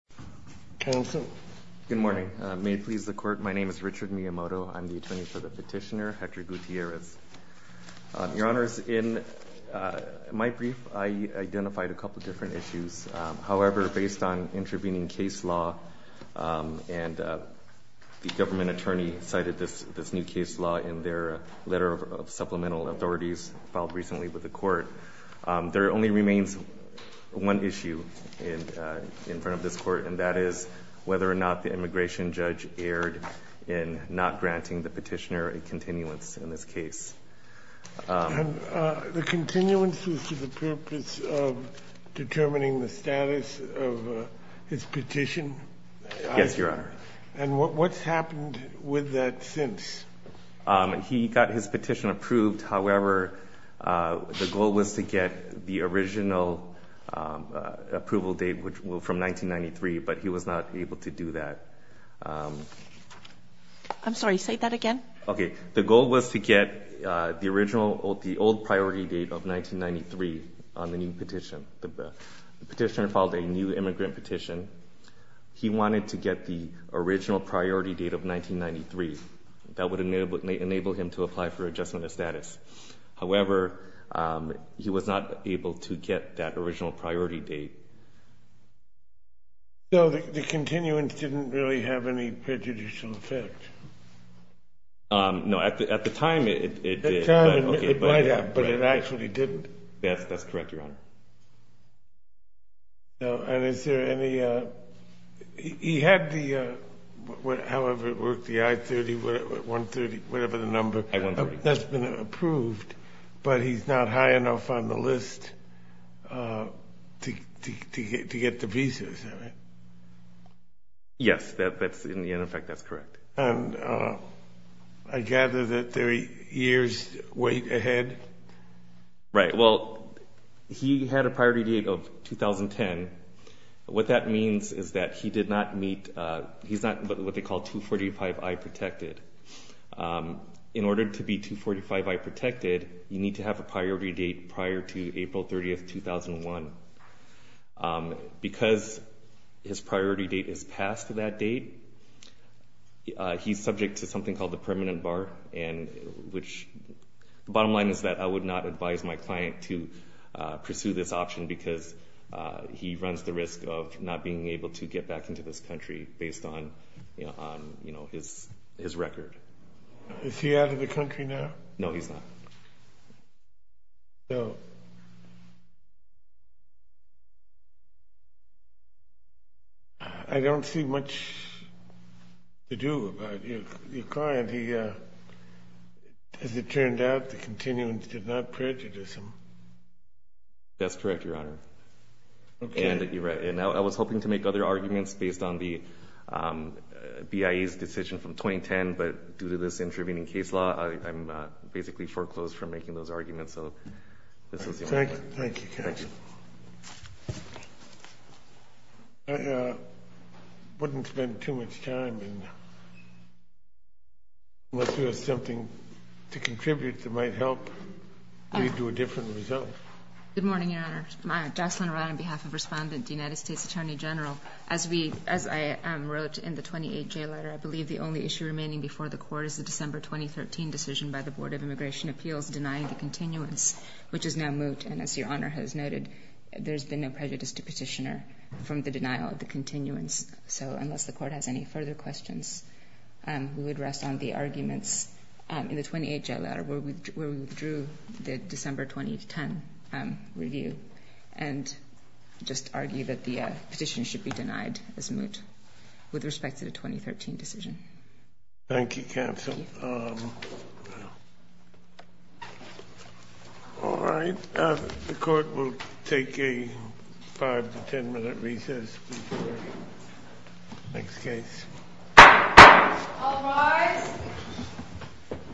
Good morning. May it please the court. My name is Richard Miyamoto. I'm the attorney for the petitioner, Hector Gutierrez. Your honors, in my brief, I identified a couple of different issues. However, based on intervening case law, and the government attorney cited this new case law in their letter of supplemental authorities filed recently with the court, there only remains one issue in front of this court, and that is whether or not the immigration judge erred in not granting the petitioner a continuance in this case. The continuance was for the purpose of determining the status of his petition? Yes, your honor. And what's happened with that since? He got his petition approved. However, the goal was to get the original approval date from 1993, but he was not able to do that. I'm sorry, say that again. Okay, the goal was to get the original, the old priority date of 1993 on the new petition. The petitioner filed a new immigrant petition. He wanted to get the original priority date of 1993. That would enable him to apply for adjustment of status. However, he was not able to get that original priority date. So the continuance didn't really have any prejudicial effect? No, at the time it did. At the time it might have, but it actually didn't. That's correct, your honor. And is there any, he had the, however it worked, the I-30, 130, whatever the number, that's been approved, but he's not high enough on the list to get the pieces of it. Yes, in the end effect that's correct. And I gather that there are years ahead? Right, well, he had a priority date of 2010. What that means is that he did not meet, he's not what they call 245I protected. In order to be 245I protected, you need to have a priority date prior to April 30, 2001. Because his priority date is past that date, he's subject to something called the permanent bar, which, the bottom line is that I would not advise my client to pursue this option because he runs the risk of not being able to get back into this country based on his record. Is he out of the country now? No, he's not. So, I don't see much to do about your client. He, as it turned out, the continuance did not prejudice him. That's correct, your honor. Okay. And I was hoping to make other arguments based on the BIA's decision from 2010, but due to this intervening case law, I'm basically foreclosed from making those arguments. So, this is your honor. Thank you, counsel. I wouldn't spend too much time unless there was something to contribute that might help lead to a different result. Good morning, your honor. Jocelyn Aran on behalf of Respondent, the United States Attorney General. As I wrote in the 28-J letter, I believe the only issue remaining before the court is the December 2013 decision by the Board of Immigration Appeals denying the continuance, which is now moved. And as your honor has noted, there's been no prejudice to petitioner from the denial of the continuance. So, unless the court has any further questions, we would rest on the arguments in the 28-J letter where we withdrew the December 2010 review and just argue that the petition should be denied as moot with respect to the 2013 decision. Thank you, counsel. Thank you. All right. The court will take a five to ten minute recess before the next case. All rise.